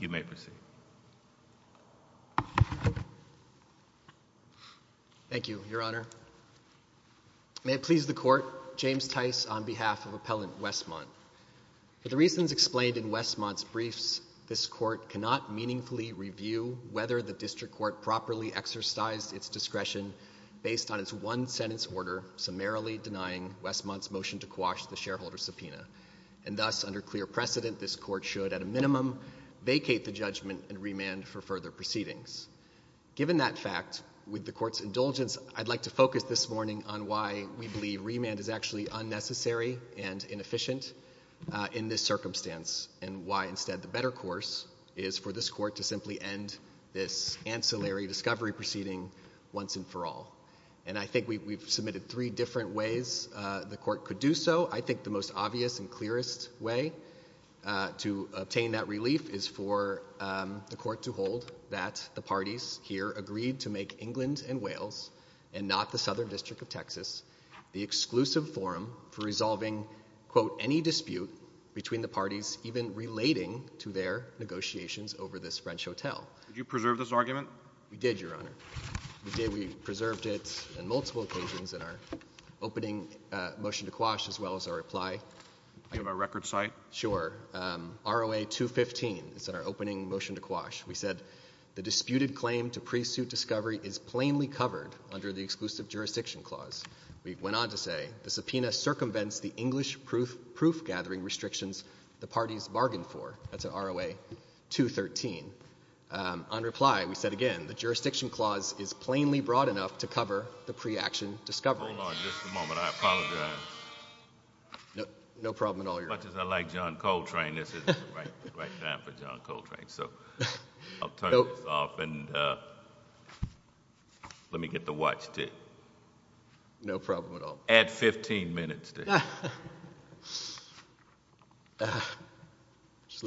You may proceed. Thank you, Your Honor. May it please the Court, James Tice on behalf of Appellant Westmont. For the reasons explained in Westmont's briefs, this Court cannot meaningfully review whether the District Court properly exercised its discretion based on its one-sentence order summarily denying Westmont's motion to quash the shareholder subpoena, and thus, under clear precedent, this Court should, at a minimum, vacate the judgment and remand for further proceedings. Given that fact, with the Court's indulgence, I'd like to focus this morning on why we believe remand is actually unnecessary and inefficient in this circumstance, and why instead the better course is for this Court to simply end this ancillary discovery proceeding once and for all. And I think we've submitted three different ways the Court could do so. I think the most obvious and clearest way to obtain that relief is for the Court to hold that the parties here agreed to make England and Wales, and not the Southern District of Texas, the exclusive forum for resolving, quote, any dispute between the parties even relating to their negotiations over this French hotel. Did you preserve this argument? We did, Your Honor. We did. Do you have a record cite? Sure. ROA 215. It's in our opening motion to quash. We said, the disputed claim to pre-suit discovery is plainly covered under the exclusive jurisdiction clause. We went on to say, the subpoena circumvents the English proof-gathering restrictions the parties bargained for. That's ROA 213. On reply, we said again, the jurisdiction clause is plainly broad enough to cover the pre-action discovery. Hold on just a moment. I apologize. No problem at all, Your Honor. As much as I like John Coltrane, this isn't the right time for John Coltrane. So, I'll turn this off, and let me get the watch, too. No problem at all. Add 15 minutes to it. All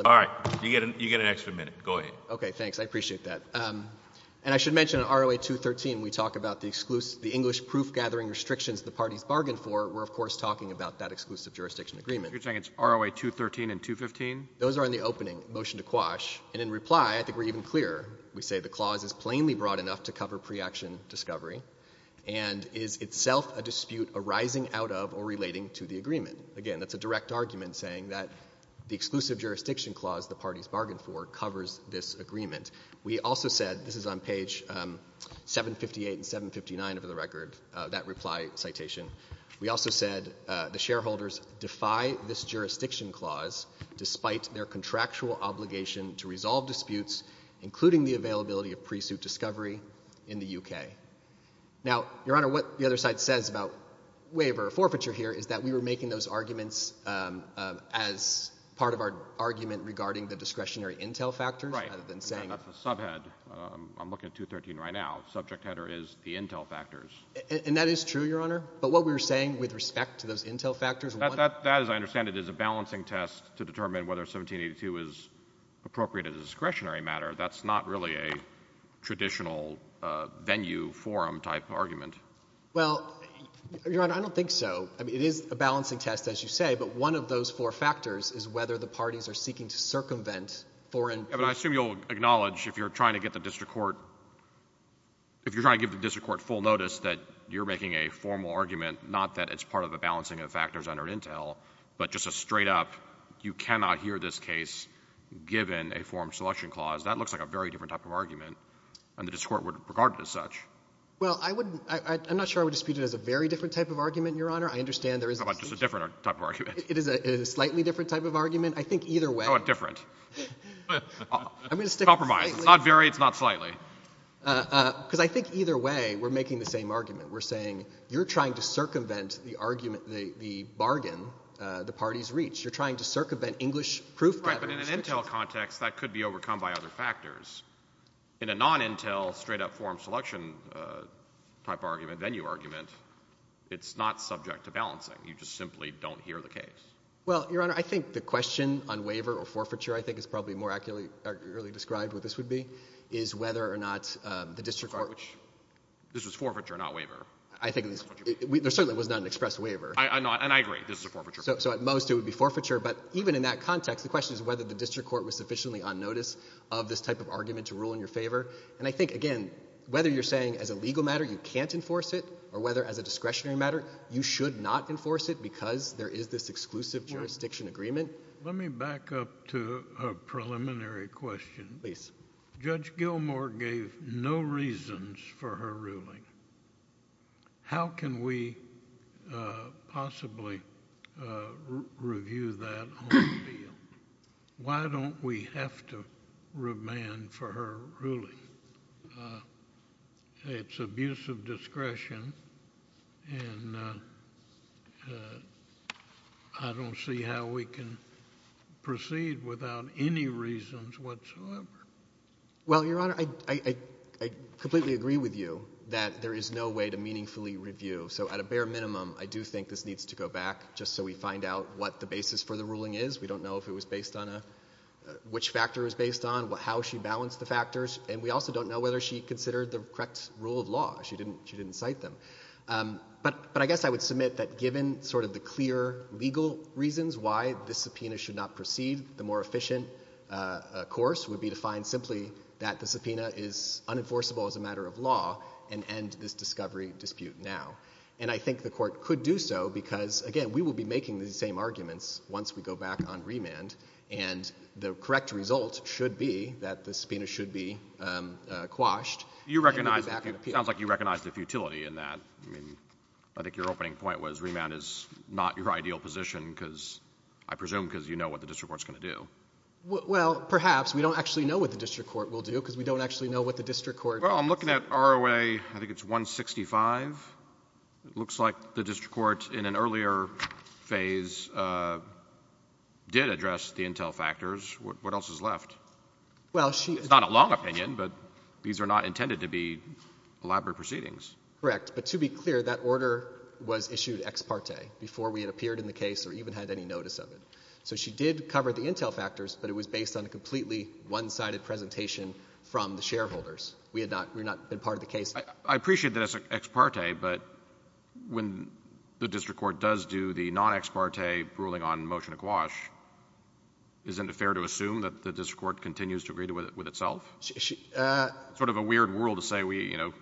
right. You get an extra minute. Go ahead. Okay, thanks. I appreciate that. And I should mention, on ROA 213, we talk about the English proof-gathering restrictions the parties bargained for. We're, of course, talking about that exclusive jurisdiction agreement. You're saying it's ROA 213 and 215? Those are in the opening. Motion to quash. And in reply, I think we're even clearer. We say the clause is plainly broad enough to cover pre-action discovery, and is itself a dispute arising out of or relating to the agreement. Again, that's a direct argument, saying that the exclusive jurisdiction clause the parties bargained for covers this agreement. We also said the shareholders defy this jurisdiction clause despite their contractual obligation to resolve disputes, including the availability of pre-suit discovery in the U.K. Now, Your Honor, what the other side says about waiver or forfeiture here is that we were making those arguments as part of our argument regarding the discretionary intel factors, rather than saying— Right. That's a subhead. I'm looking at 213 right now. Subject header is the intel factors. And that is true, Your Honor. But what we were saying with respect to those intel factors— That, as I understand it, is a balancing test to determine whether 1782 is appropriate as a discretionary matter. That's not really a traditional venue, forum-type argument. Well, Your Honor, I don't think so. It is a balancing test, as you say, but one of those four factors is whether the parties are seeking to circumvent foreign— So you're saying that you're making a formal argument, not that it's part of a balancing of the factors under intel, but just a straight up, you cannot hear this case given a forum selection clause. That looks like a very different type of argument. And the discourse would regard it as such. Well, I wouldn't—I'm not sure I would dispute it as a very different type of argument, Your Honor. I understand there is a— Just a different type of argument. It is a slightly different type of argument. I think either way— Oh, a different. I'm going to stick with— Compromise. It's not very. It's not slightly. Because I think either way, we're making the same argument. We're saying you're trying to circumvent the argument—the bargain the parties reach. You're trying to circumvent English proof— Right, but in an intel context, that could be overcome by other factors. In a non-intel, straight up forum selection-type argument, venue argument, it's not subject to balancing. You just simply don't hear the case. Well, Your Honor, I think the question on waiver or forfeiture, I think, is probably more accurately described what this would be, is whether or not the district court— This was forfeiture, not waiver. I think—there certainly was not an express waiver. And I agree. This is a forfeiture. So at most, it would be forfeiture. But even in that context, the question is whether the district court was sufficiently on notice of this type of argument to rule in your favor. And I think, again, whether you're saying as a legal matter you can't enforce it or whether as a discretionary matter you should not enforce it because there is this exclusive jurisdiction agreement— I have a preliminary question. Please. Judge Gilmour gave no reasons for her ruling. How can we possibly review that on the bill? Why don't we have to remand for her ruling? It's abuse of discretion, and I don't see how we can proceed without any reasons whatsoever. Well, Your Honor, I completely agree with you that there is no way to meaningfully review. So at a bare minimum, I do think this needs to go back just so we find out what the basis for the ruling is. We don't know if it was based on a—which factor it was based on, how she balanced the case. I also don't know whether she considered the correct rule of law. She didn't cite them. But I guess I would submit that given sort of the clear legal reasons why this subpoena should not proceed, the more efficient course would be to find simply that the subpoena is unenforceable as a matter of law and end this discovery dispute now. And I think the Court could do so because, again, we will be making these same arguments once we go back on remand, and the correct result should be that the subpoena should be quashed— —and we'll be back on appeal. It sounds like you recognize the futility in that. I mean, I think your opening point was remand is not your ideal position because—I presume because you know what the district court's going to do. Well, perhaps. We don't actually know what the district court will do because we don't actually know what the district court— Well, I'm looking at ROA, I think it's 165. It looks like the district court in an earlier phase did address the intel factors. What else is left? Well, she— It's not a long opinion, but these are not intended to be elaborate proceedings. Correct. But to be clear, that order was issued ex parte before we had appeared in the case or even had any notice of it. So she did cover the intel factors, but it was based on a completely one-sided presentation from the shareholders. We had not — we had not been part of the case. I appreciate that it's ex parte, but when the district court does do the non-ex parte ruling on Motion to Quash, isn't it fair to assume that the district court continues to agree with itself? Sort of a weird rule to say we, you know,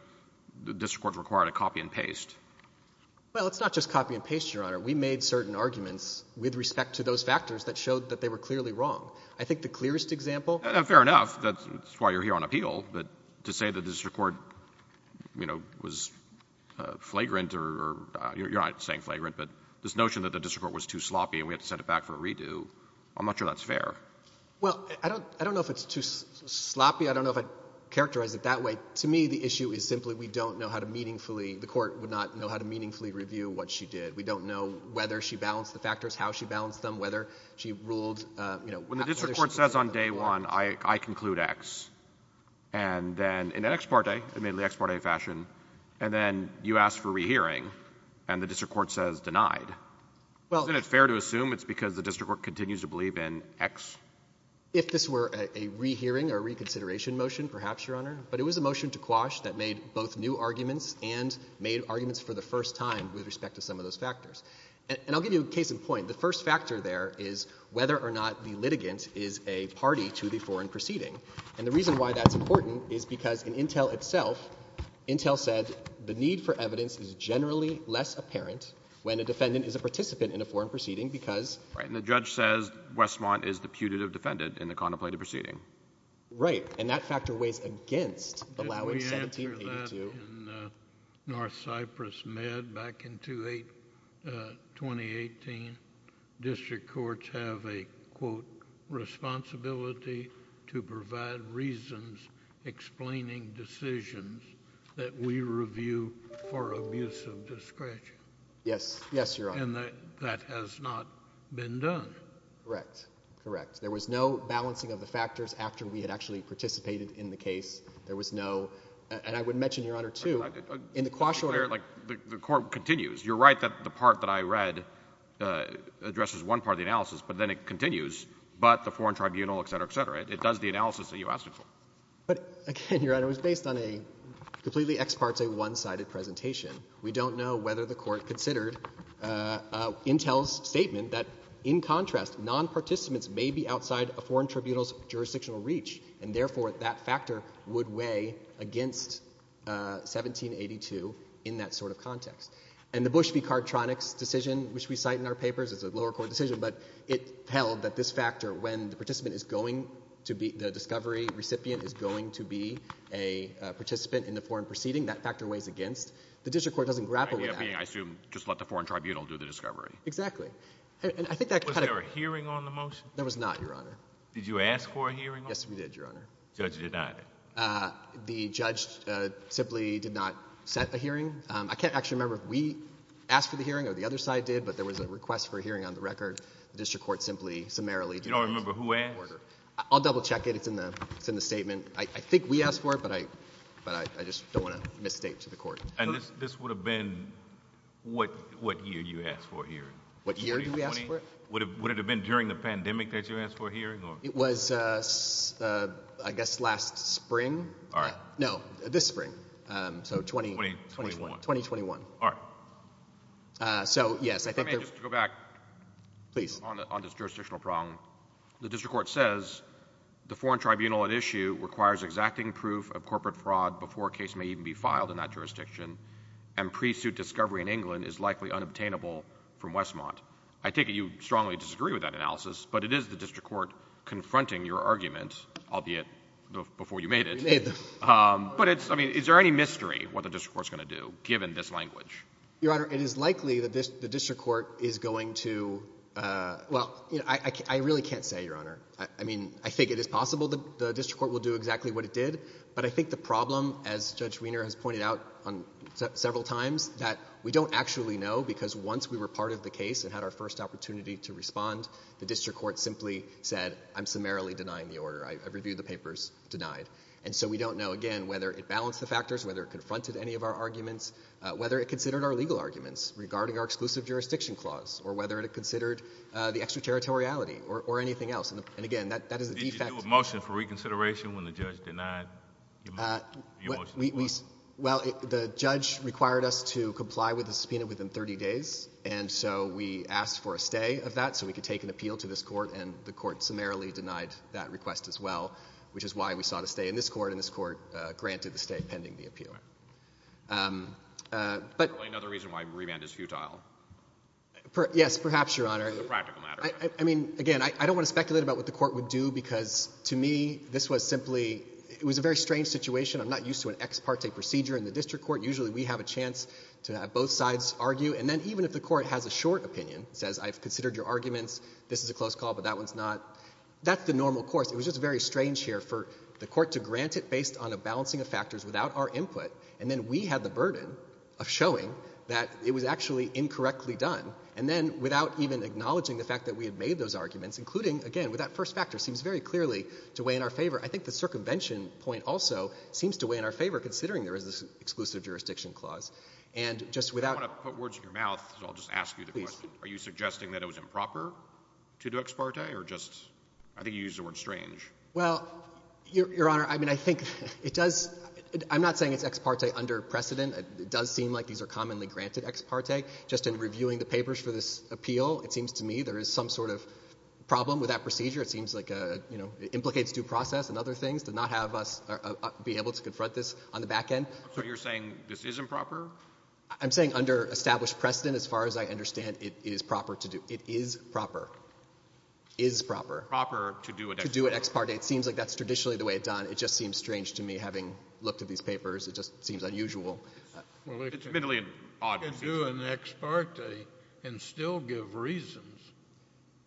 the district court's required a copy and paste. Well, it's not just copy and paste, Your Honor. We made certain arguments with respect to those factors that showed that they were clearly wrong. I think the clearest example— Fair enough. Fair enough. That's why you're here on appeal. But to say the district court, you know, was flagrant or — you're not saying flagrant, but this notion that the district court was too sloppy and we had to send it back for a redo, I'm not sure that's fair. Well, I don't know if it's too sloppy. I don't know if I'd characterize it that way. To me, the issue is simply we don't know how to meaningfully — the court would not know how to meaningfully review what she did. We don't know whether she balanced the factors, how she balanced them, whether she ruled — When the district court says on day one, I conclude X, and then in an ex parte, in an ex parte fashion, and then you ask for rehearing, and the district court says denied, isn't it fair to assume it's because the district court continues to believe in X? If this were a rehearing or reconsideration motion, perhaps, Your Honor, but it was a motion to Quash that made both new arguments and made arguments for the first time with respect to some of those factors. And I'll give you a case in point. The first factor there is whether or not the litigant is a party to the foreign proceeding. And the reason why that's important is because in Intel itself, Intel said the need for evidence is generally less apparent when a defendant is a participant in a foreign proceeding because — Right. And the judge says Westmont is the putative defendant in the contemplated proceeding. Right. And that factor weighs against the law in 1782. In North Cyprus Med back in 2018, district courts have a, quote, responsibility to provide reasons explaining decisions that we review for abuse of discretion. Yes. Yes, Your Honor. And that has not been done. Correct. Correct. There was no balancing of the factors after we had actually participated in the case. There was no — and I would mention, Your Honor, too, in the quash order — Like, the court continues. You're right that the part that I read addresses one part of the analysis, but then it continues. But the foreign tribunal, et cetera, et cetera, it does the analysis that you asked it for. But, again, Your Honor, it was based on a completely ex parte, one-sided presentation. We don't know whether the court considered Intel's statement that, in contrast, non-participants may be outside a foreign tribunal's jurisdictional reach, and therefore that factor would weigh against 1782 in that sort of context. And the Bush v. Cardtronic's decision, which we cite in our papers as a lower court decision, but it held that this factor, when the participant is going to be — the discovery recipient is going to be a participant in the foreign proceeding, that factor weighs against. The district court doesn't grapple with that. The idea being, I assume, just let the foreign tribunal do the discovery. Exactly. And I think that kind of — Was there a hearing on the motion? There was not, Your Honor. Did you ask for a hearing on it? Yes, we did, Your Honor. The judge denied it? The judge simply did not set a hearing. I can't actually remember if we asked for the hearing or the other side did, but there was a request for a hearing on the record. The district court simply summarily denied it. You don't remember who asked? I'll double check it. It's in the statement. I think we asked for it, but I just don't want to misstate to the court. And this would have been what year you asked for a hearing? What year did we ask for it? Would it have been during the pandemic that you asked for a hearing? It was, I guess, last spring. All right. No, this spring, so 2021. All right. So, yes, I think — If I may just go back — Please. — on this jurisdictional problem. The district court says the foreign tribunal at issue requires exacting proof of corporate fraud before a case may even be filed in that jurisdiction, and pre-suit discovery in England is likely unobtainable from Westmont. I take it you strongly disagree with that analysis, but it is the district court confronting your argument, albeit before you made it. We made them. But it's — I mean, is there any mystery what the district court's going to do, given this language? Your Honor, it is likely that the district court is going to — well, I really can't say, Your Honor. I mean, I think it is possible that the district court will do exactly what it did, but I think the problem, as Judge Wiener has pointed out several times, that we don't actually know, because once we were part of the case and had our first opportunity to respond, the district court simply said, I'm summarily denying the order. I've reviewed the papers. Denied. And so we don't know, again, whether it balanced the factors, whether it confronted any of our arguments, whether it considered our legal arguments regarding our exclusive jurisdiction clause, or whether it considered the extraterritoriality or anything else. And, again, that is a defect — Did you do a motion for reconsideration when the judge denied your motion? Well, the judge required us to comply with the subpoena within 30 days, and so we asked for a stay of that so we could take an appeal to this court, and the court summarily denied that request as well, which is why we saw the stay in this court, and this court granted the stay pending the appeal. Is there another reason why remand is futile? Yes, perhaps, Your Honor. It's a practical matter. I mean, again, I don't want to speculate about what the court would do, because to me, this was simply — it was a very strange situation. I'm not used to an ex parte procedure in the district court. Usually we have a chance to have both sides argue, and then even if the court has a short opinion, says, I've considered your arguments, this is a close call, but that one's not, that's the normal course. It was just very strange here for the court to grant it based on a balancing of factors without our input, and then we had the burden of showing that it was actually incorrectly done, and then without even acknowledging the fact that we had made those arguments, including, again, with that first factor, seems very clearly to weigh in our favor. I think the circumvention point also seems to weigh in our favor, considering there is this exclusive jurisdiction clause. And just without — I don't want to put words in your mouth, so I'll just ask you the question. Please. Are you suggesting that it was improper to do ex parte, or just — I think you used the word strange. Well, Your Honor, I mean, I think it does — I'm not saying it's ex parte under precedent. It does seem like these are commonly granted ex parte. Just in reviewing the papers for this appeal, it seems to me there is some sort of problem with that procedure. It seems like, you know, it implicates due process and other things to not have us be able to confront this on the back end. So you're saying this is improper? I'm saying under established precedent, as far as I understand, it is proper to do — it is proper. Is proper. Proper to do an ex parte. To do an ex parte. It seems like that's traditionally the way it's done. It just seems strange to me, having looked at these papers. It just seems unusual. Well, it's — It's a bit odd. It's doing ex parte and still give reasons.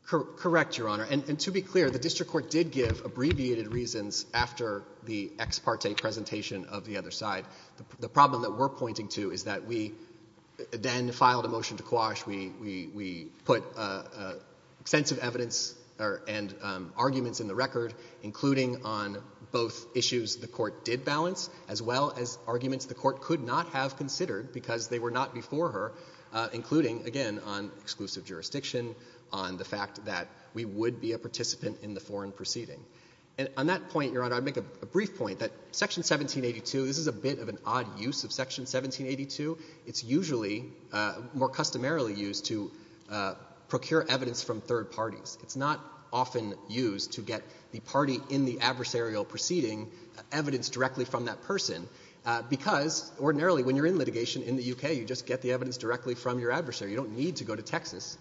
Correct, Your Honor. And to be clear, the district court did give abbreviated reasons after the ex parte presentation of the other side. The problem that we're pointing to is that we then filed a motion to quash. We put extensive evidence and arguments in the record, including on both issues the court did balance, as well as arguments the court could not have considered because they were not before her, including, again, on exclusive jurisdiction, on the fact that we would be a participant in the foreign proceeding. And on that point, Your Honor, I'd make a brief point that Section 1782 — this is a bit of an odd use of Section 1782. It's usually more customarily used to procure evidence from third parties. It's not often used to get the party in the adversarial proceeding evidence directly from that person because, ordinarily, when you're in litigation in the U.K., you just get the evidence directly from your adversary. You don't need to go to Texas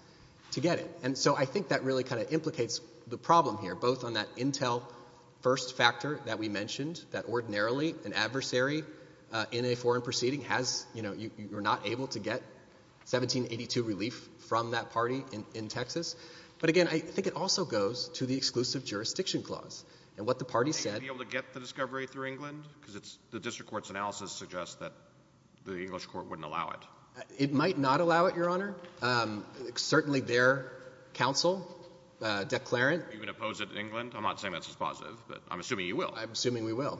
to get it. And so I think that really kind of implicates the problem here, both on that intel-first factor that we mentioned, that ordinarily an adversary in a foreign proceeding has — you know, you're not able to get 1782 relief from that party in Texas. But again, I think it also goes to the exclusive jurisdiction clause. And what the parties said — Are you going to be able to get the discovery through England? Because the district court's analysis suggests that the English court wouldn't allow it. It might not allow it, Your Honor. Certainly their counsel, Declarant — Are you going to oppose it in England? I'm not saying that's a positive, but I'm assuming you will. I'm assuming we will.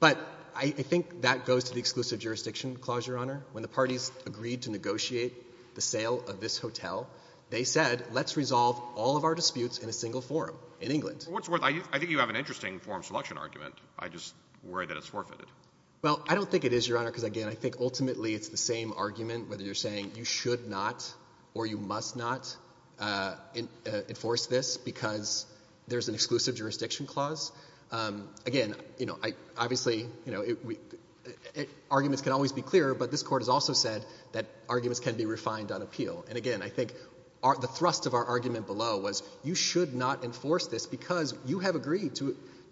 But I think that goes to the exclusive jurisdiction clause, Your Honor. When the parties agreed to negotiate the sale of this hotel, they said, let's resolve all of our disputes in a single forum in England. I think you have an interesting forum selection argument. I just worry that it's forfeited. Well, I don't think it is, Your Honor, because again, I think ultimately it's the same argument, whether you're saying you should not or you must not enforce this because there's an exclusive jurisdiction clause. Again, obviously arguments can always be clearer, but this Court has also said that arguments can be refined on appeal. And again, I think the thrust of our argument below was you should not enforce this because you have agreed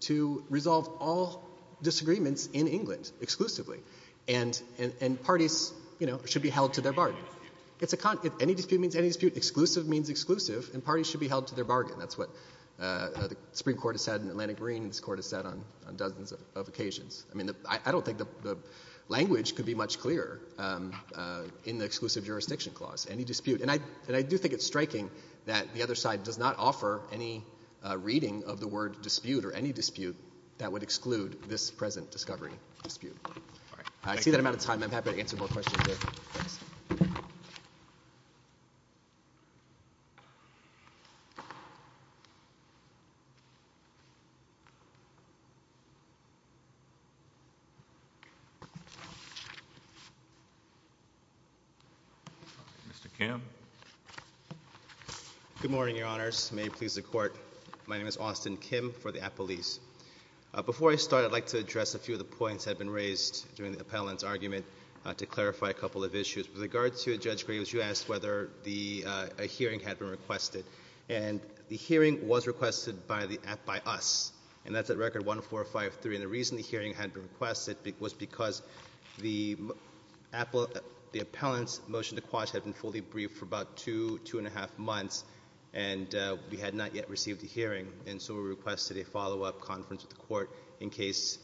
to resolve all disagreements in England exclusively, and parties should be held to their bargain. If any dispute means any dispute, exclusive means exclusive, and parties should be held to their bargain. That's what the Supreme Court has said in Atlantic Green, and this Court has said on dozens of occasions. I don't think the language could be much clearer in the exclusive jurisdiction clause. Any dispute. And I do think it's striking that the other side does not offer any reading of the word dispute or any dispute that would exclude this present discovery dispute. All right. I see that I'm out of time. I'm happy to answer more questions here. Thanks. Mr. Kim. Good morning, Your Honors. May it please the Court. My name is Austin Kim for the appellees. Before I start, I'd like to address a few of the points that have been raised during the appellant's argument to clarify a couple of issues. With regard to Judge Graves, you asked whether a hearing had been requested. And the hearing was requested by us. And that's at record 1453. And the reason the hearing had been requested was because the appellant's motion to quash had been fully briefed for about two, two and a half months, and we had not yet received a hearing. And so we requested a follow-up conference with the Court in case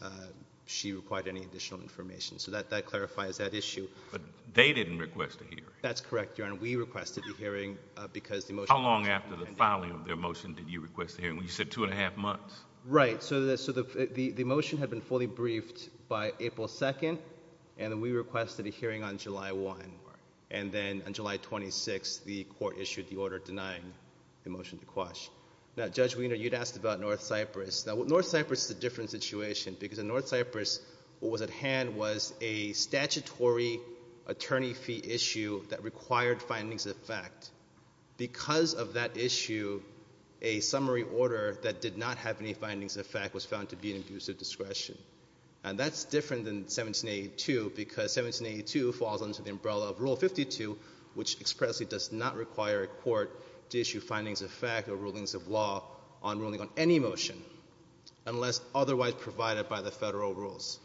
she required any additional information. So that clarifies that issue. But they didn't request a hearing. That's correct, Your Honor. And we requested a hearing because the motion to quash had been fully briefed. How long after the filing of their motion did you request a hearing? You said two and a half months. Right. So the motion had been fully briefed by April 2nd, and then we requested a hearing on July 1. And then on July 26th, the Court issued the order denying the motion to quash. Now, Judge Wiener, you'd asked about North Cyprus. Now, North Cyprus is a different situation because in North Cyprus, what was at hand was a statutory attorney fee issue that required findings of fact. Because of that issue, a summary order that did not have any findings of fact was found to be an abuse of discretion. And that's different than 1782 because 1782 falls under the umbrella of Rule 52, which expressly does not require a court to issue findings of fact or rulings of law on ruling on any motion unless otherwise provided by the federal rules.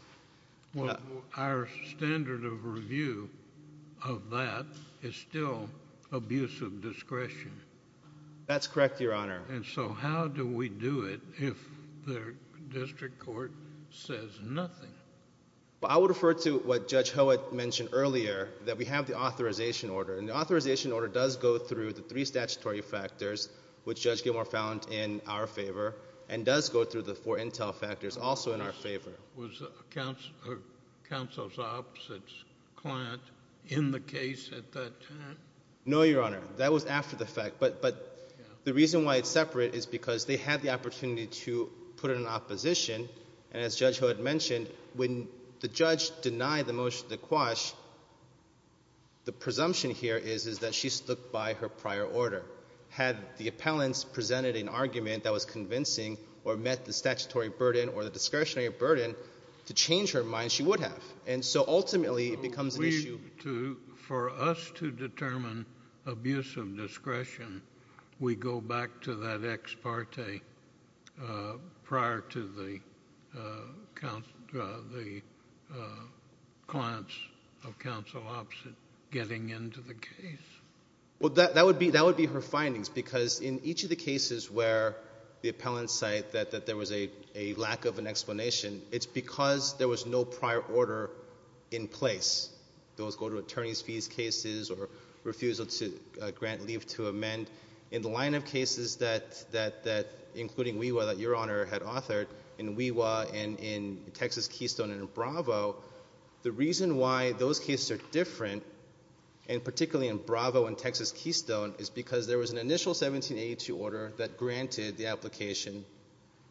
Well, our standard of review of that is still abuse of discretion. That's correct, Your Honor. And so how do we do it if the district court says nothing? Well, I would refer to what Judge Howitt mentioned earlier, that we have the authorization order. And the authorization order does go through the three statutory factors, which Judge Gilmour found in our favor, and does go through the four intel factors also in our favor. Was counsel's opposite's client in the case at that time? No, Your Honor. That was after the fact. But the reason why it's separate is because they had the opportunity to put it in opposition. And as Judge Howitt mentioned, when the judge denied the motion to quash, the presumption here is that she stood by her prior order. Had the appellants presented an argument that was convincing or met the statutory burden or the discretionary burden to change her mind, she would have. And so ultimately it becomes an issue. For us to determine abuse of discretion, we go back to that ex parte prior to the clients of counsel opposite getting into the case. Well, that would be her findings. Because in each of the cases where the appellants cite that there was a lack of an explanation, it's because there was no prior order in place. Those go to attorney's fees cases or refusal to grant leave to amend. In the line of cases that, including WeWa that Your Honor had authored, in WeWa and in Texas Keystone and in Bravo, the reason why those cases are different, and particularly in Bravo and Texas Keystone, is because there was an initial 1782 order that granted the application,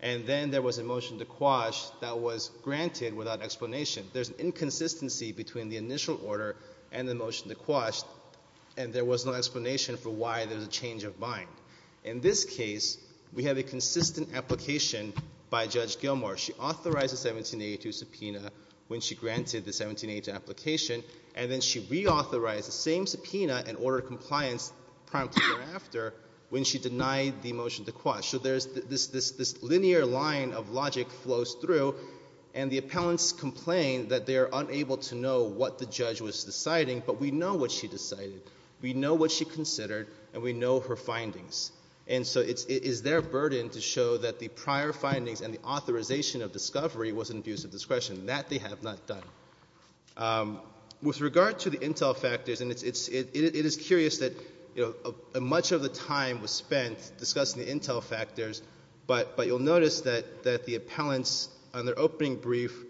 and then there was a motion to quash that was granted without explanation. There's an inconsistency between the initial order and the motion to quash, and there was no explanation for why there was a change of mind. In this case, we have a consistent application by Judge Gilmour. She authorized the 1782 subpoena when she granted the 1782 application, and then she reauthorized the same subpoena and ordered compliance promptly thereafter when she denied the motion to quash. So there's this linear line of logic flows through, and the appellants complain that they're unable to know what the judge was deciding, but we know what she decided. We know what she considered, and we know her findings. And so it is their burden to show that the prior findings and the authorization of discovery was an abuse of discretion. That they have not done. With regard to the intel factors, and it is curious that much of the time was spent discussing the intel factors, but you'll notice that the appellants on their opening brief,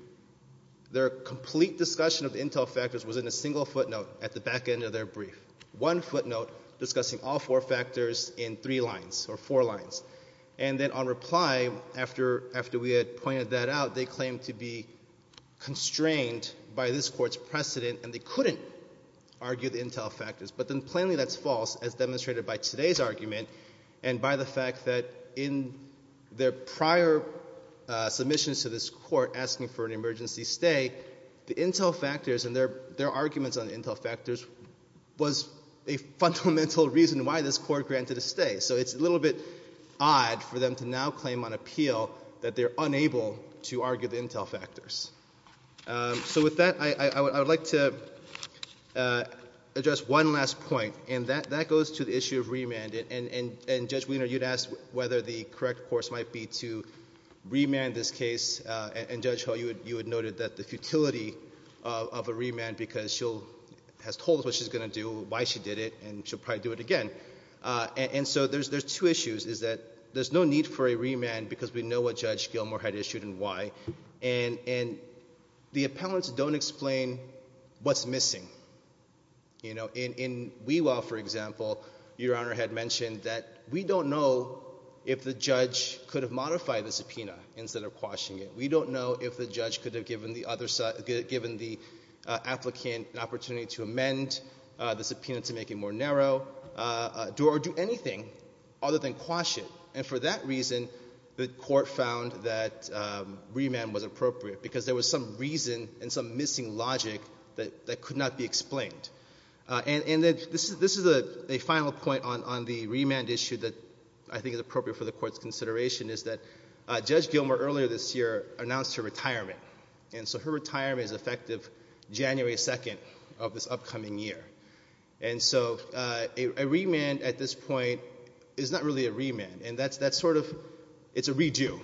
their complete discussion of the intel factors was in a single footnote at the back end of their brief, one footnote discussing all four factors in three lines or four lines. And then on reply, after we had pointed that out, they claimed to be constrained by this court's precedent, and they couldn't argue the intel factors. But then plainly that's false, as demonstrated by today's argument and by the fact that in their prior submissions to this court asking for an emergency stay, the intel factors and their arguments on the intel factors was a fundamental reason why this court granted a stay. So it's a little bit odd for them to now claim on appeal that they're unable to argue the intel factors. So with that, I would like to address one last point, and that goes to the issue of remand. And Judge Wiener, you'd ask whether the correct course might be to remand this case, and Judge Hull, you had noted that the futility of a remand because she has told us what she's going to do, why she did it, and she'll probably do it again. And so there's two issues, is that there's no need for a remand because we know what Judge Gilmour had issued and why, and the appellants don't explain what's missing. In Wewell, for example, Your Honor had mentioned that we don't know if the judge could have modified the subpoena instead of quashing it. We don't know if the judge could have given the applicant an opportunity to amend the subpoena to make it more narrow or do anything other than quash it. And for that reason, the court found that remand was appropriate because there was some reason and some missing logic that could not be explained. And this is a final point on the remand issue that I think is appropriate for the court's consideration, is that Judge Gilmour earlier this year announced her retirement, and so her retirement is effective January 2nd of this upcoming year. And so a remand at this point is not really a remand, and that's sort of a redo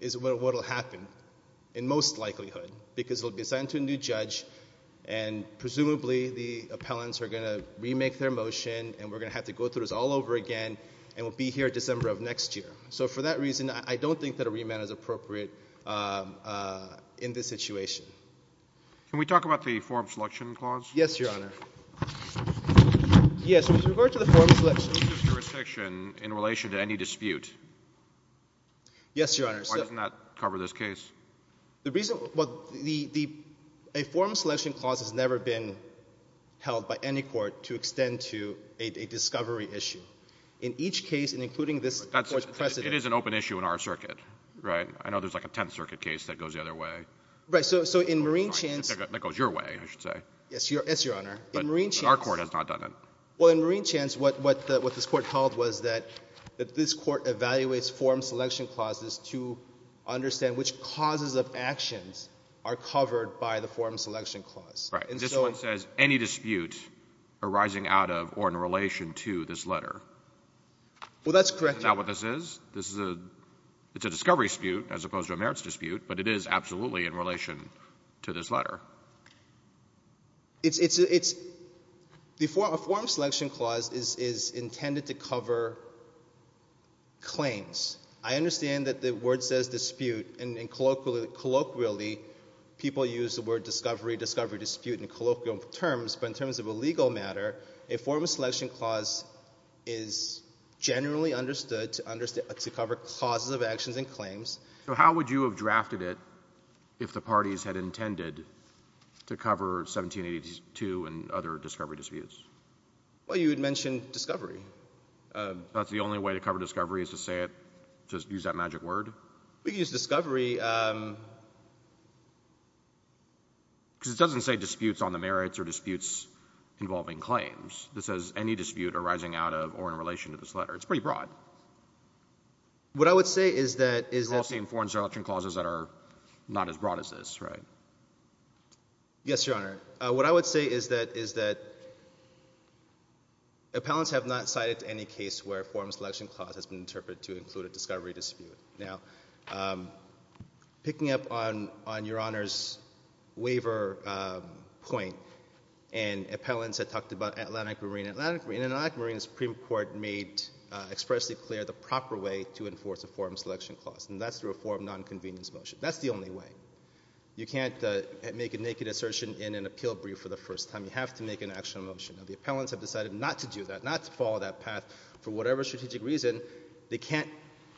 is what will happen in most likelihood because it will be assigned to a new judge, and presumably the appellants are going to remake their motion and we're going to have to go through this all over again, and we'll be here December of next year. So for that reason, I don't think that a remand is appropriate in this situation. Can we talk about the form selection clause? Yes, Your Honor. Yes, with regard to the form selection. What is the jurisdiction in relation to any dispute? Yes, Your Honor. Why doesn't that cover this case? Well, a form selection clause has never been held by any court to extend to a discovery issue. In each case, and including this court's precedent. It is an open issue in our circuit, right? I know there's like a Tenth Circuit case that goes the other way. Right, so in Marine Chance. That goes your way, I should say. Yes, Your Honor. But our court has not done that. Well, in Marine Chance, what this court held was that this court evaluates form selection clauses to understand which causes of actions are covered by the form selection clause. Right, and this one says any dispute arising out of or in relation to this letter. Well, that's correct, Your Honor. Is that what this is? It's a discovery dispute as opposed to a merits dispute, but it is absolutely in relation to this letter. A form selection clause is intended to cover claims. I understand that the word says dispute, and colloquially people use the word discovery, discovery dispute in colloquial terms, but in terms of a legal matter, a form selection clause is generally understood to cover causes of actions and claims. So how would you have drafted it if the parties had intended to cover 1782 and other discovery disputes? Well, you had mentioned discovery. That's the only way to cover discovery is to say it, just use that magic word? We could use discovery. Because it doesn't say disputes on the merits or disputes involving claims. It says any dispute arising out of or in relation to this letter. It's pretty broad. What I would say is that— You've all seen form selection clauses that are not as broad as this, right? Yes, Your Honor. What I would say is that appellants have not cited any case where a form selection clause has been interpreted to include a discovery dispute. Now, picking up on Your Honor's waiver point, and appellants had talked about Atlantic Marine. In Atlantic Marine, the Supreme Court made expressly clear the proper way to enforce a form selection clause, and that's through a form of nonconvenience motion. That's the only way. You can't make a naked assertion in an appeal brief for the first time. You have to make an action motion. Now, the appellants have decided not to do that, not to follow that path. For whatever strategic reason, they can't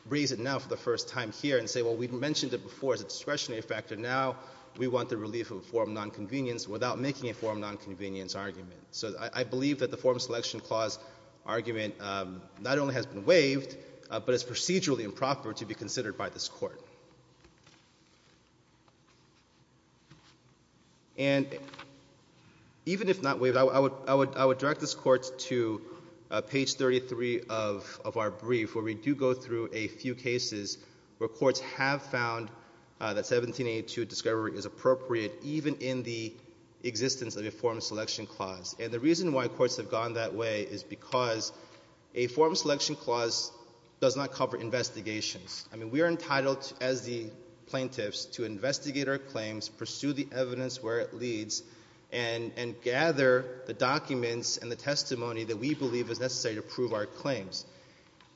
raise it now for the first time here and say, well, we've mentioned it before as a discretionary factor. Now we want the relief of a form of nonconvenience without making a form of nonconvenience argument. So I believe that the form selection clause argument not only has been waived, but it's procedurally improper to be considered by this Court. And even if not waived, I would direct this Court to page 33 of our brief where we do go through a few cases where courts have found that 1782 discovery is appropriate, even in the existence of a form selection clause. And the reason why courts have gone that way is because a form selection clause does not cover investigations. I mean, we are entitled as the plaintiffs to investigate our claims, pursue the evidence where it leads, and gather the documents and the testimony that we believe is necessary to prove our claims.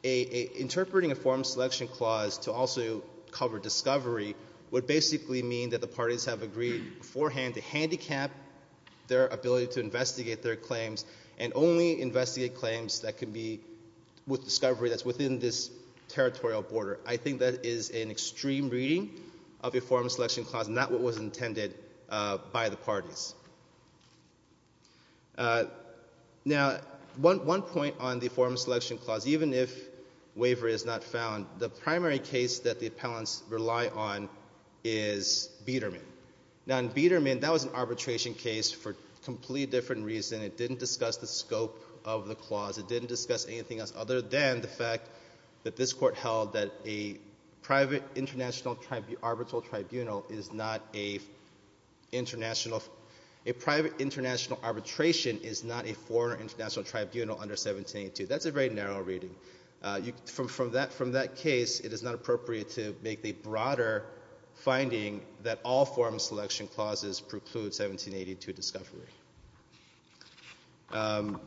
Interpreting a form selection clause to also cover discovery would basically mean that the parties have agreed beforehand to handicap their ability to investigate their claims and only investigate claims that can be with discovery that's within this territorial border. I think that is an extreme reading of a form selection clause, not what was intended by the parties. Now, one point on the form selection clause, even if waiver is not found, the primary case that the appellants rely on is Biederman. Now, in Biederman, that was an arbitration case for a completely different reason. It didn't discuss the scope of the clause. It didn't discuss anything else other than the fact that this court held that a private international arbitral tribunal is not a international, a private international arbitration is not a foreign international tribunal under 1782. That's a very narrow reading. From that case, it is not appropriate to make the broader finding that all form selection clauses preclude 1782 discovery. The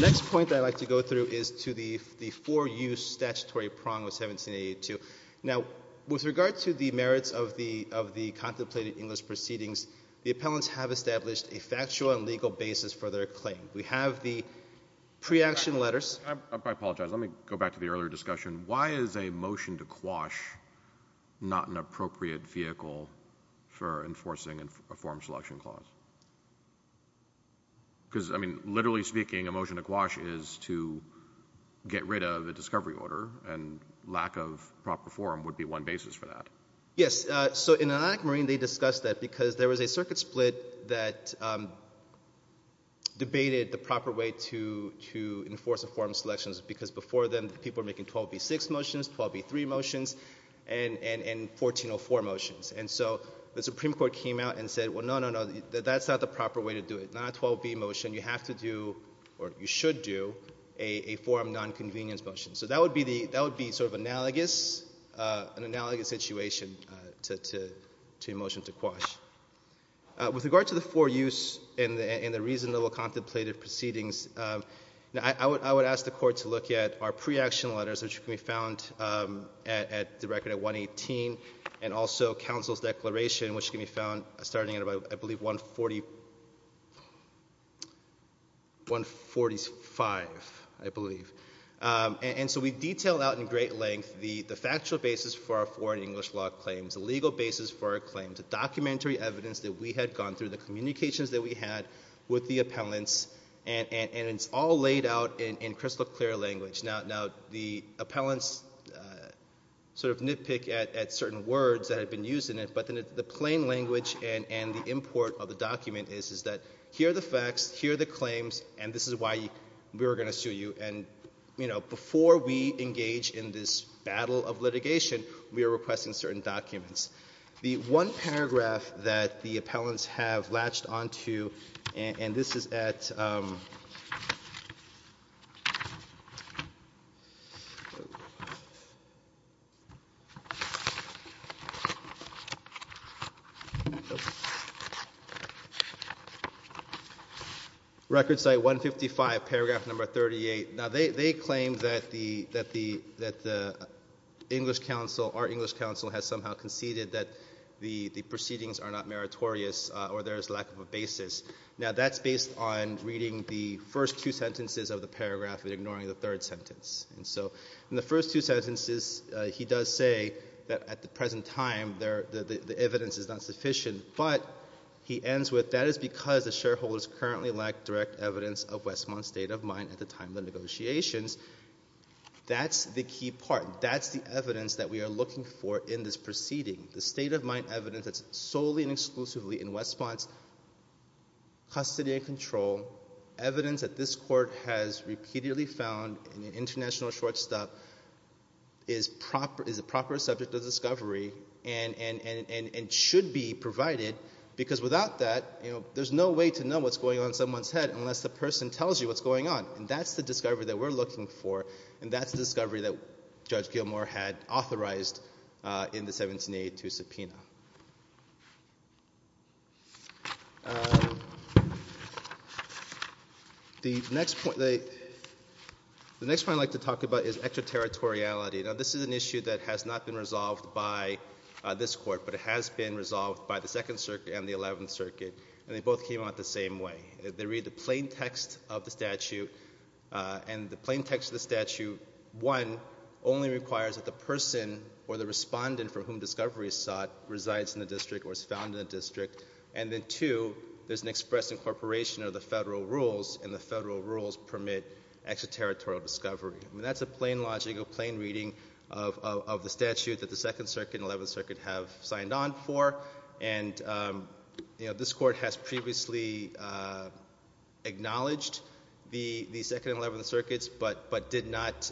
next point that I'd like to go through is to the four-use statutory prong of 1782. Now, with regard to the merits of the contemplated English proceedings, the appellants have established a factual and legal basis for their claim. We have the pre-action letters. I apologize. Let me go back to the earlier discussion. Why is a motion to quash not an appropriate vehicle for enforcing a form selection clause? Because, I mean, literally speaking, a motion to quash is to get rid of a discovery order, and lack of proper form would be one basis for that. Yes. So in Atlantic Marine, they discussed that because there was a circuit split that debated the proper way to enforce a form selection because before then people were making 12b-6 motions, 12b-3 motions, and 1404 motions. And so the Supreme Court came out and said, well, no, no, no, that's not the proper way to do it, not a 12b motion. You have to do, or you should do, a form nonconvenience motion. So that would be sort of analogous, an analogous situation to a motion to quash. With regard to the four-use and the reasonable contemplated proceedings, I would ask the Court to look at our pre-action letters, which can be found at the record at 118, and also counsel's declaration, which can be found starting at, I believe, 145, I believe. And so we detailed out in great length the factual basis for our foreign English law claims, the legal basis for our claims, the documentary evidence that we had gone through, the communications that we had with the appellants, and it's all laid out in crystal clear language. Now, the appellants sort of nitpick at certain words that have been used in it, but then the plain language and the import of the document is that here are the facts, here are the claims, and this is why we're going to sue you. And before we engage in this battle of litigation, we are requesting certain documents. The one paragraph that the appellants have latched onto, and this is at record site 155, paragraph number 38. Now, they claim that the English counsel, our English counsel, has somehow conceded that the proceedings are not meritorious or there is lack of a basis. Now, that's based on reading the first two sentences of the paragraph and ignoring the third sentence. And so in the first two sentences, he does say that at the present time the evidence is not sufficient, but he ends with that is because the shareholders currently lack direct evidence of Westmont's state of mind at the time of the negotiations. That's the key part. That's the evidence that we are looking for in this proceeding, the state of mind evidence that's solely and exclusively in Westmont's custody and control, evidence that this court has repeatedly found in an international shortstop, is a proper subject of discovery and should be provided because without that, there's no way to know what's going on in someone's head unless the person tells you what's going on. And that's the discovery that we're looking for, and that's the discovery that Judge Gilmour had authorized in the 1782 subpoena. The next point I'd like to talk about is extraterritoriality. Now, this is an issue that has not been resolved by this court, but it has been resolved by the Second Circuit and the Eleventh Circuit, and they both came out the same way. They read the plain text of the statute, and the plain text of the statute, one, only requires that the person or the respondent for whom discovery is sought resides in the district or is found in the district, and then two, there's an express incorporation of the federal rules, and the federal rules permit extraterritorial discovery. That's a plain logic, a plain reading of the statute that the Second Circuit and the Eleventh Circuit have signed on for, and this court has previously acknowledged the Second and Eleventh Circuits but did not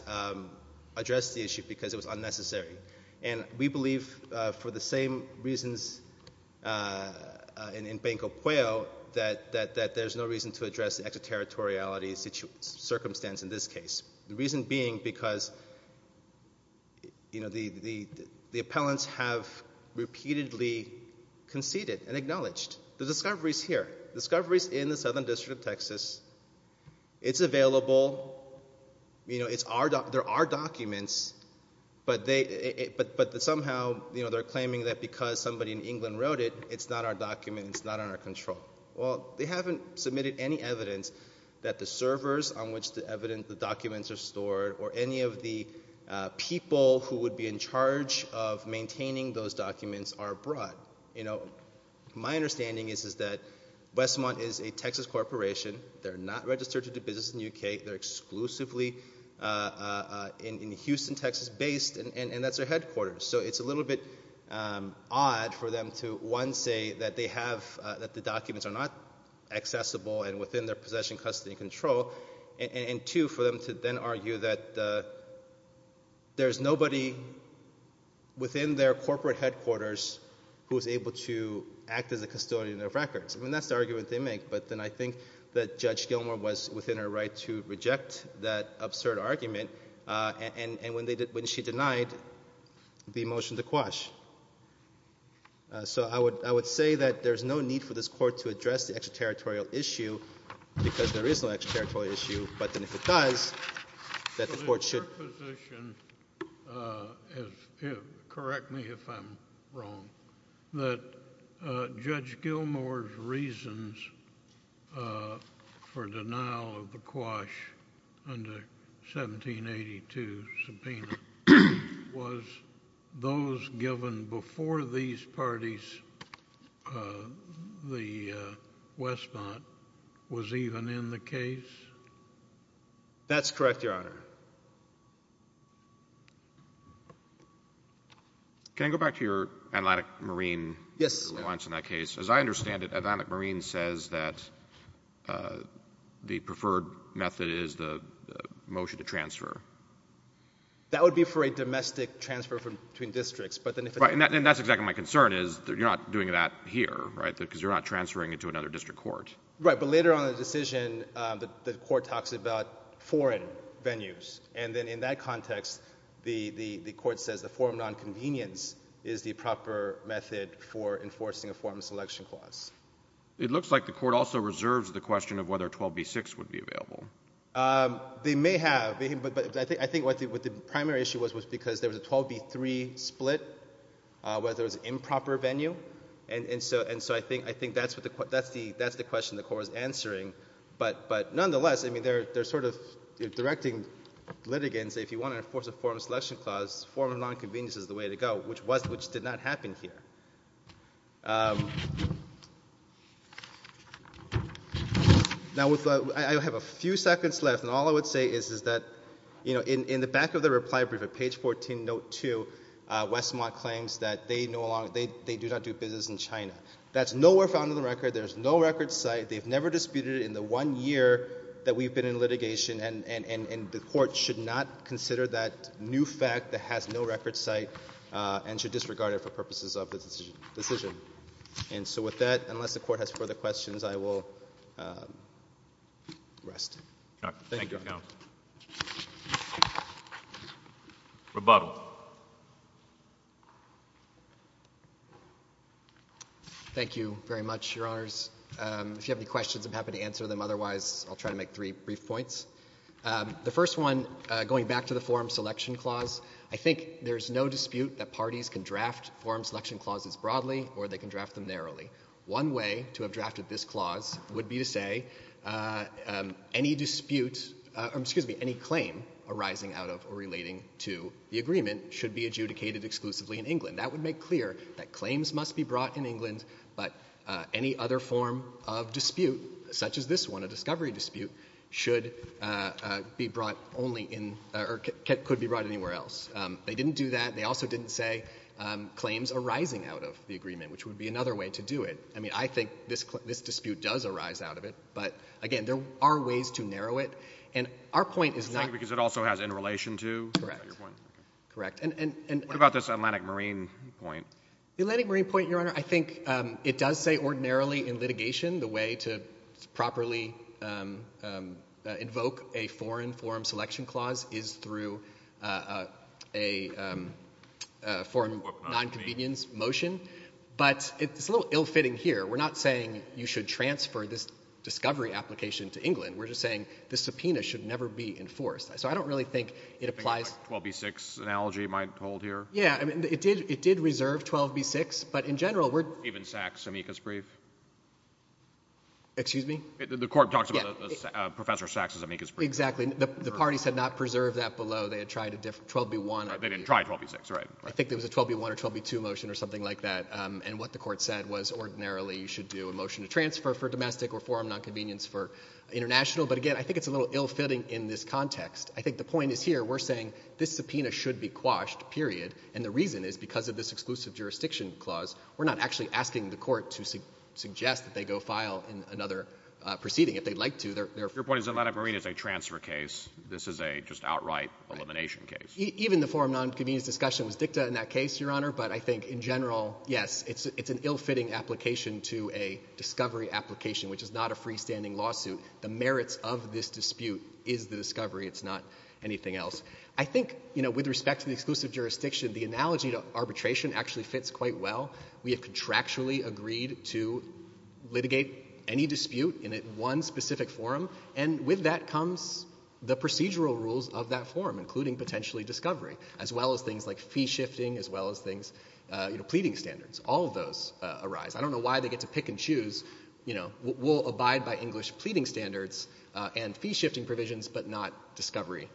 address the issue because it was unnecessary. And we believe, for the same reasons in Banco Pueo, that there's no reason to address the extraterritoriality circumstance in this case, the reason being because, you know, the appellants have repeatedly conceded and acknowledged. The discovery is here. The discovery is in the Southern District of Texas. It's available. You know, there are documents, but somehow they're claiming that because somebody in England wrote it, it's not our document, it's not under our control. Well, they haven't submitted any evidence that the servers on which the documents are stored or any of the people who would be in charge of maintaining those documents are abroad. My understanding is that Westmont is a Texas corporation. They're not registered to do business in the U.K. They're exclusively in Houston, Texas-based, and that's their headquarters. So it's a little bit odd for them to, one, say that they have, that the documents are not accessible and within their possession, custody, and control, and two, for them to then argue that there's nobody within their corporate headquarters who is able to act as a custodian of records. I mean, that's the argument they make, but then I think that Judge Gilmour was within her right to reject that absurd argument when she denied the motion to quash. So I would say that there's no need for this court to address the extraterritorial issue because there is no extraterritorial issue, but then if it does, that the court should— Correct me if I'm wrong. That Judge Gilmour's reasons for denial of the quash under 1782 subpoena was those given before these parties, the Westmont, was even in the case? That's correct, Your Honor. Can I go back to your Atlantic Marine compliance in that case? Yes. As I understand it, Atlantic Marine says that the preferred method is the motion to transfer. That would be for a domestic transfer between districts, but then if— Right, and that's exactly my concern is that you're not doing that here, right, because you're not transferring it to another district court. Right, but later on in the decision, the court talks about foreign venues, and then in that context, the court says the forum nonconvenience is the proper method for enforcing a forum selection clause. It looks like the court also reserves the question of whether 12b-6 would be available. They may have, but I think what the primary issue was was because there was a 12b-3 split where there was improper venue, and so I think that's the question the court was answering. But nonetheless, I mean, they're sort of directing litigants, if you want to enforce a forum selection clause, forum nonconvenience is the way to go, which did not happen here. Now, I have a few seconds left, and all I would say is that in the back of the reply brief on page 14, note 2, Westmont claims that they do not do business in China. That's nowhere found in the record. There's no record site. They've never disputed it in the one year that we've been in litigation, and the court should not consider that new fact that has no record site and should disregard it for purposes of the decision. And so with that, unless the court has further questions, I will rest. Thank you, Your Honor. Rebuttal. Thank you very much, Your Honors. If you have any questions, I'm happy to answer them. Otherwise, I'll try to make three brief points. The first one, going back to the forum selection clause, I think there's no dispute that parties can draft forum selection clauses broadly or they can draft them narrowly. One way to have drafted this clause would be to say any dispute or excuse me, any claim arising out of or relating to the agreement should be adjudicated exclusively in England. That would make clear that claims must be brought in England, but any other form of dispute, such as this one, a discovery dispute, should be brought only in or could be brought anywhere else. They didn't do that. They also didn't say claims arising out of the agreement, which would be another way to do it. I mean, I think this dispute does arise out of it. But, again, there are ways to narrow it. And our point is not. Because it also has in relation to. Correct. What about this Atlantic Marine point? The Atlantic Marine point, Your Honor, I think it does say ordinarily in litigation the way to properly invoke a foreign forum selection clause is through a foreign nonconvenience motion. But it's a little ill-fitting here. We're not saying you should transfer this discovery application to England. We're just saying the subpoena should never be enforced. So I don't really think it applies. Do you think a 12b-6 analogy might hold here? Yeah. I mean, it did reserve 12b-6, but in general we're... Even Sachs' amicus brief? Excuse me? The court talks about Professor Sachs' amicus brief. Exactly. The parties had not preserved that below. They had tried a 12b-1... They didn't try 12b-6, right. I think there was a 12b-1 or 12b-2 motion or something like that. And what the court said was ordinarily you should do a motion to transfer for domestic or forum nonconvenience for international. But again, I think it's a little ill-fitting in this context. I think the point is here we're saying this subpoena should be quashed, period. And the reason is because of this exclusive jurisdiction clause, we're not actually asking the court to suggest that they go file another proceeding if they'd like to. Your point is the Atlantic Marine is a transfer case. This is a just outright elimination case. Even the forum nonconvenience discussion was dicta in that case, Your Honor, but I think in general, yes, it's an ill-fitting application to a discovery application, which is not a freestanding lawsuit. The merits of this dispute is the discovery. It's not anything else. I think with respect to the exclusive jurisdiction, the analogy to arbitration actually fits quite well. We have contractually agreed to litigate any dispute in one specific forum, and with that comes the procedural rules of that forum, including potentially discovery, as well as things like fee shifting, as well as things, you know, pleading standards. All of those arise. I don't know why they get to pick and choose, you know. We'll abide by English pleading standards and fee shifting provisions, but not discovery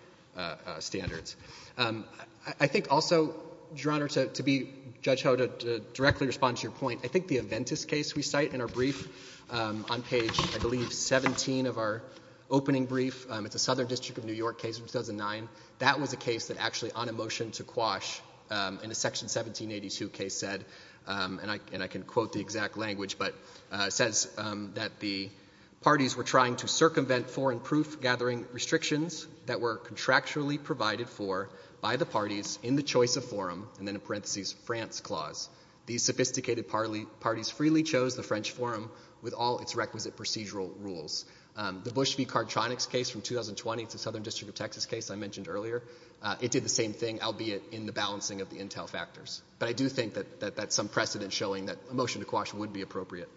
standards. I think also, Your Honor, to judge how to directly respond to your point, I think the Aventis case we cite in our brief on page, I believe, 17 of our opening brief. It's a Southern District of New York case from 2009. That was a case that actually on a motion to quash in a Section 1782 case said, and I can quote the exact language, but it says that the parties were trying to circumvent foreign proof gathering restrictions that were contractually provided for by the parties in the choice of forum, and then in parentheses France clause. These sophisticated parties freely chose the French forum with all its requisite procedural rules. The Bush v. Cartronics case from 2020, it's a Southern District of Texas case I mentioned earlier, it did the same thing, albeit in the balancing of the intel factors. But I do think that that's some precedent showing that a motion to quash would be appropriate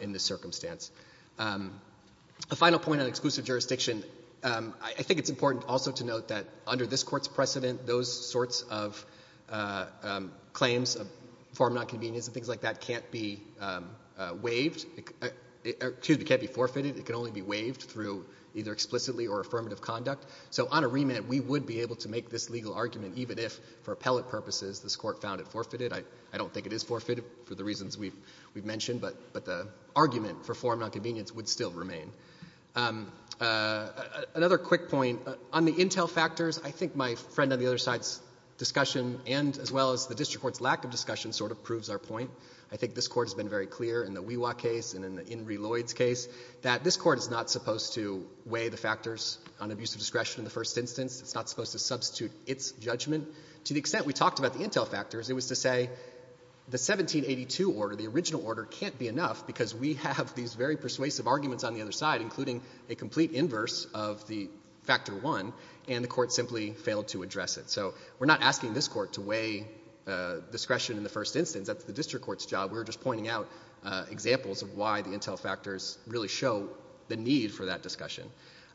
in this circumstance. A final point on exclusive jurisdiction, I think it's important also to note that under this Court's precedent, those sorts of claims of foreign nonconvenience and things like that can't be waived, excuse me, can't be forfeited. It can only be waived through either explicitly or affirmative conduct. So on a remit, we would be able to make this legal argument, even if for appellate purposes this Court found it forfeited. I don't think it is forfeited for the reasons we've mentioned, but the argument for foreign nonconvenience would still remain. Another quick point, on the intel factors, I think my friend on the other side's discussion and as well as the District Court's lack of discussion sort of proves our point. I think this Court has been very clear in the Wewa case and in the Inree Lloyd's case that this Court is not supposed to weigh the factors on abusive discretion in the first instance. It's not supposed to substitute its judgment. To the extent we talked about the intel factors, it was to say the 1782 order, the original order can't be enough because we have these very persuasive arguments on the other side, including a complete inverse of the Factor I, and the Court simply failed to address it. So we're not asking this Court to weigh discretion in the first instance. That's the District Court's job. We're just pointing out examples of why the intel factors really show the need for that discussion.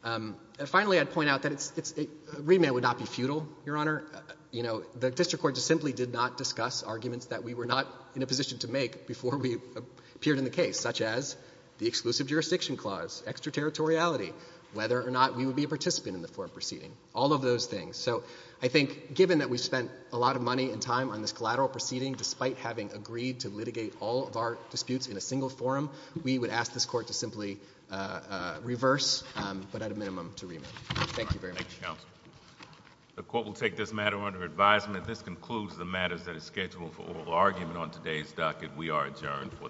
And finally, I'd point out that a remand would not be futile, Your Honor. You know, the District Court just simply did not discuss arguments that we were not in a position to make before we appeared in the case, such as the exclusive jurisdiction clause, extraterritoriality, whether or not we would be a participant in the foreign proceeding, all of those things. So I think given that we spent a lot of money and time on this collateral proceeding despite having agreed to litigate all of our disputes in a single forum, we would ask this Court to simply reverse, but at a minimum to remand. Thank you very much. Thank you, Counsel. The Court will take this matter under advisement. This concludes the matters that are scheduled for oral argument on today's docket. We are adjourned for the day.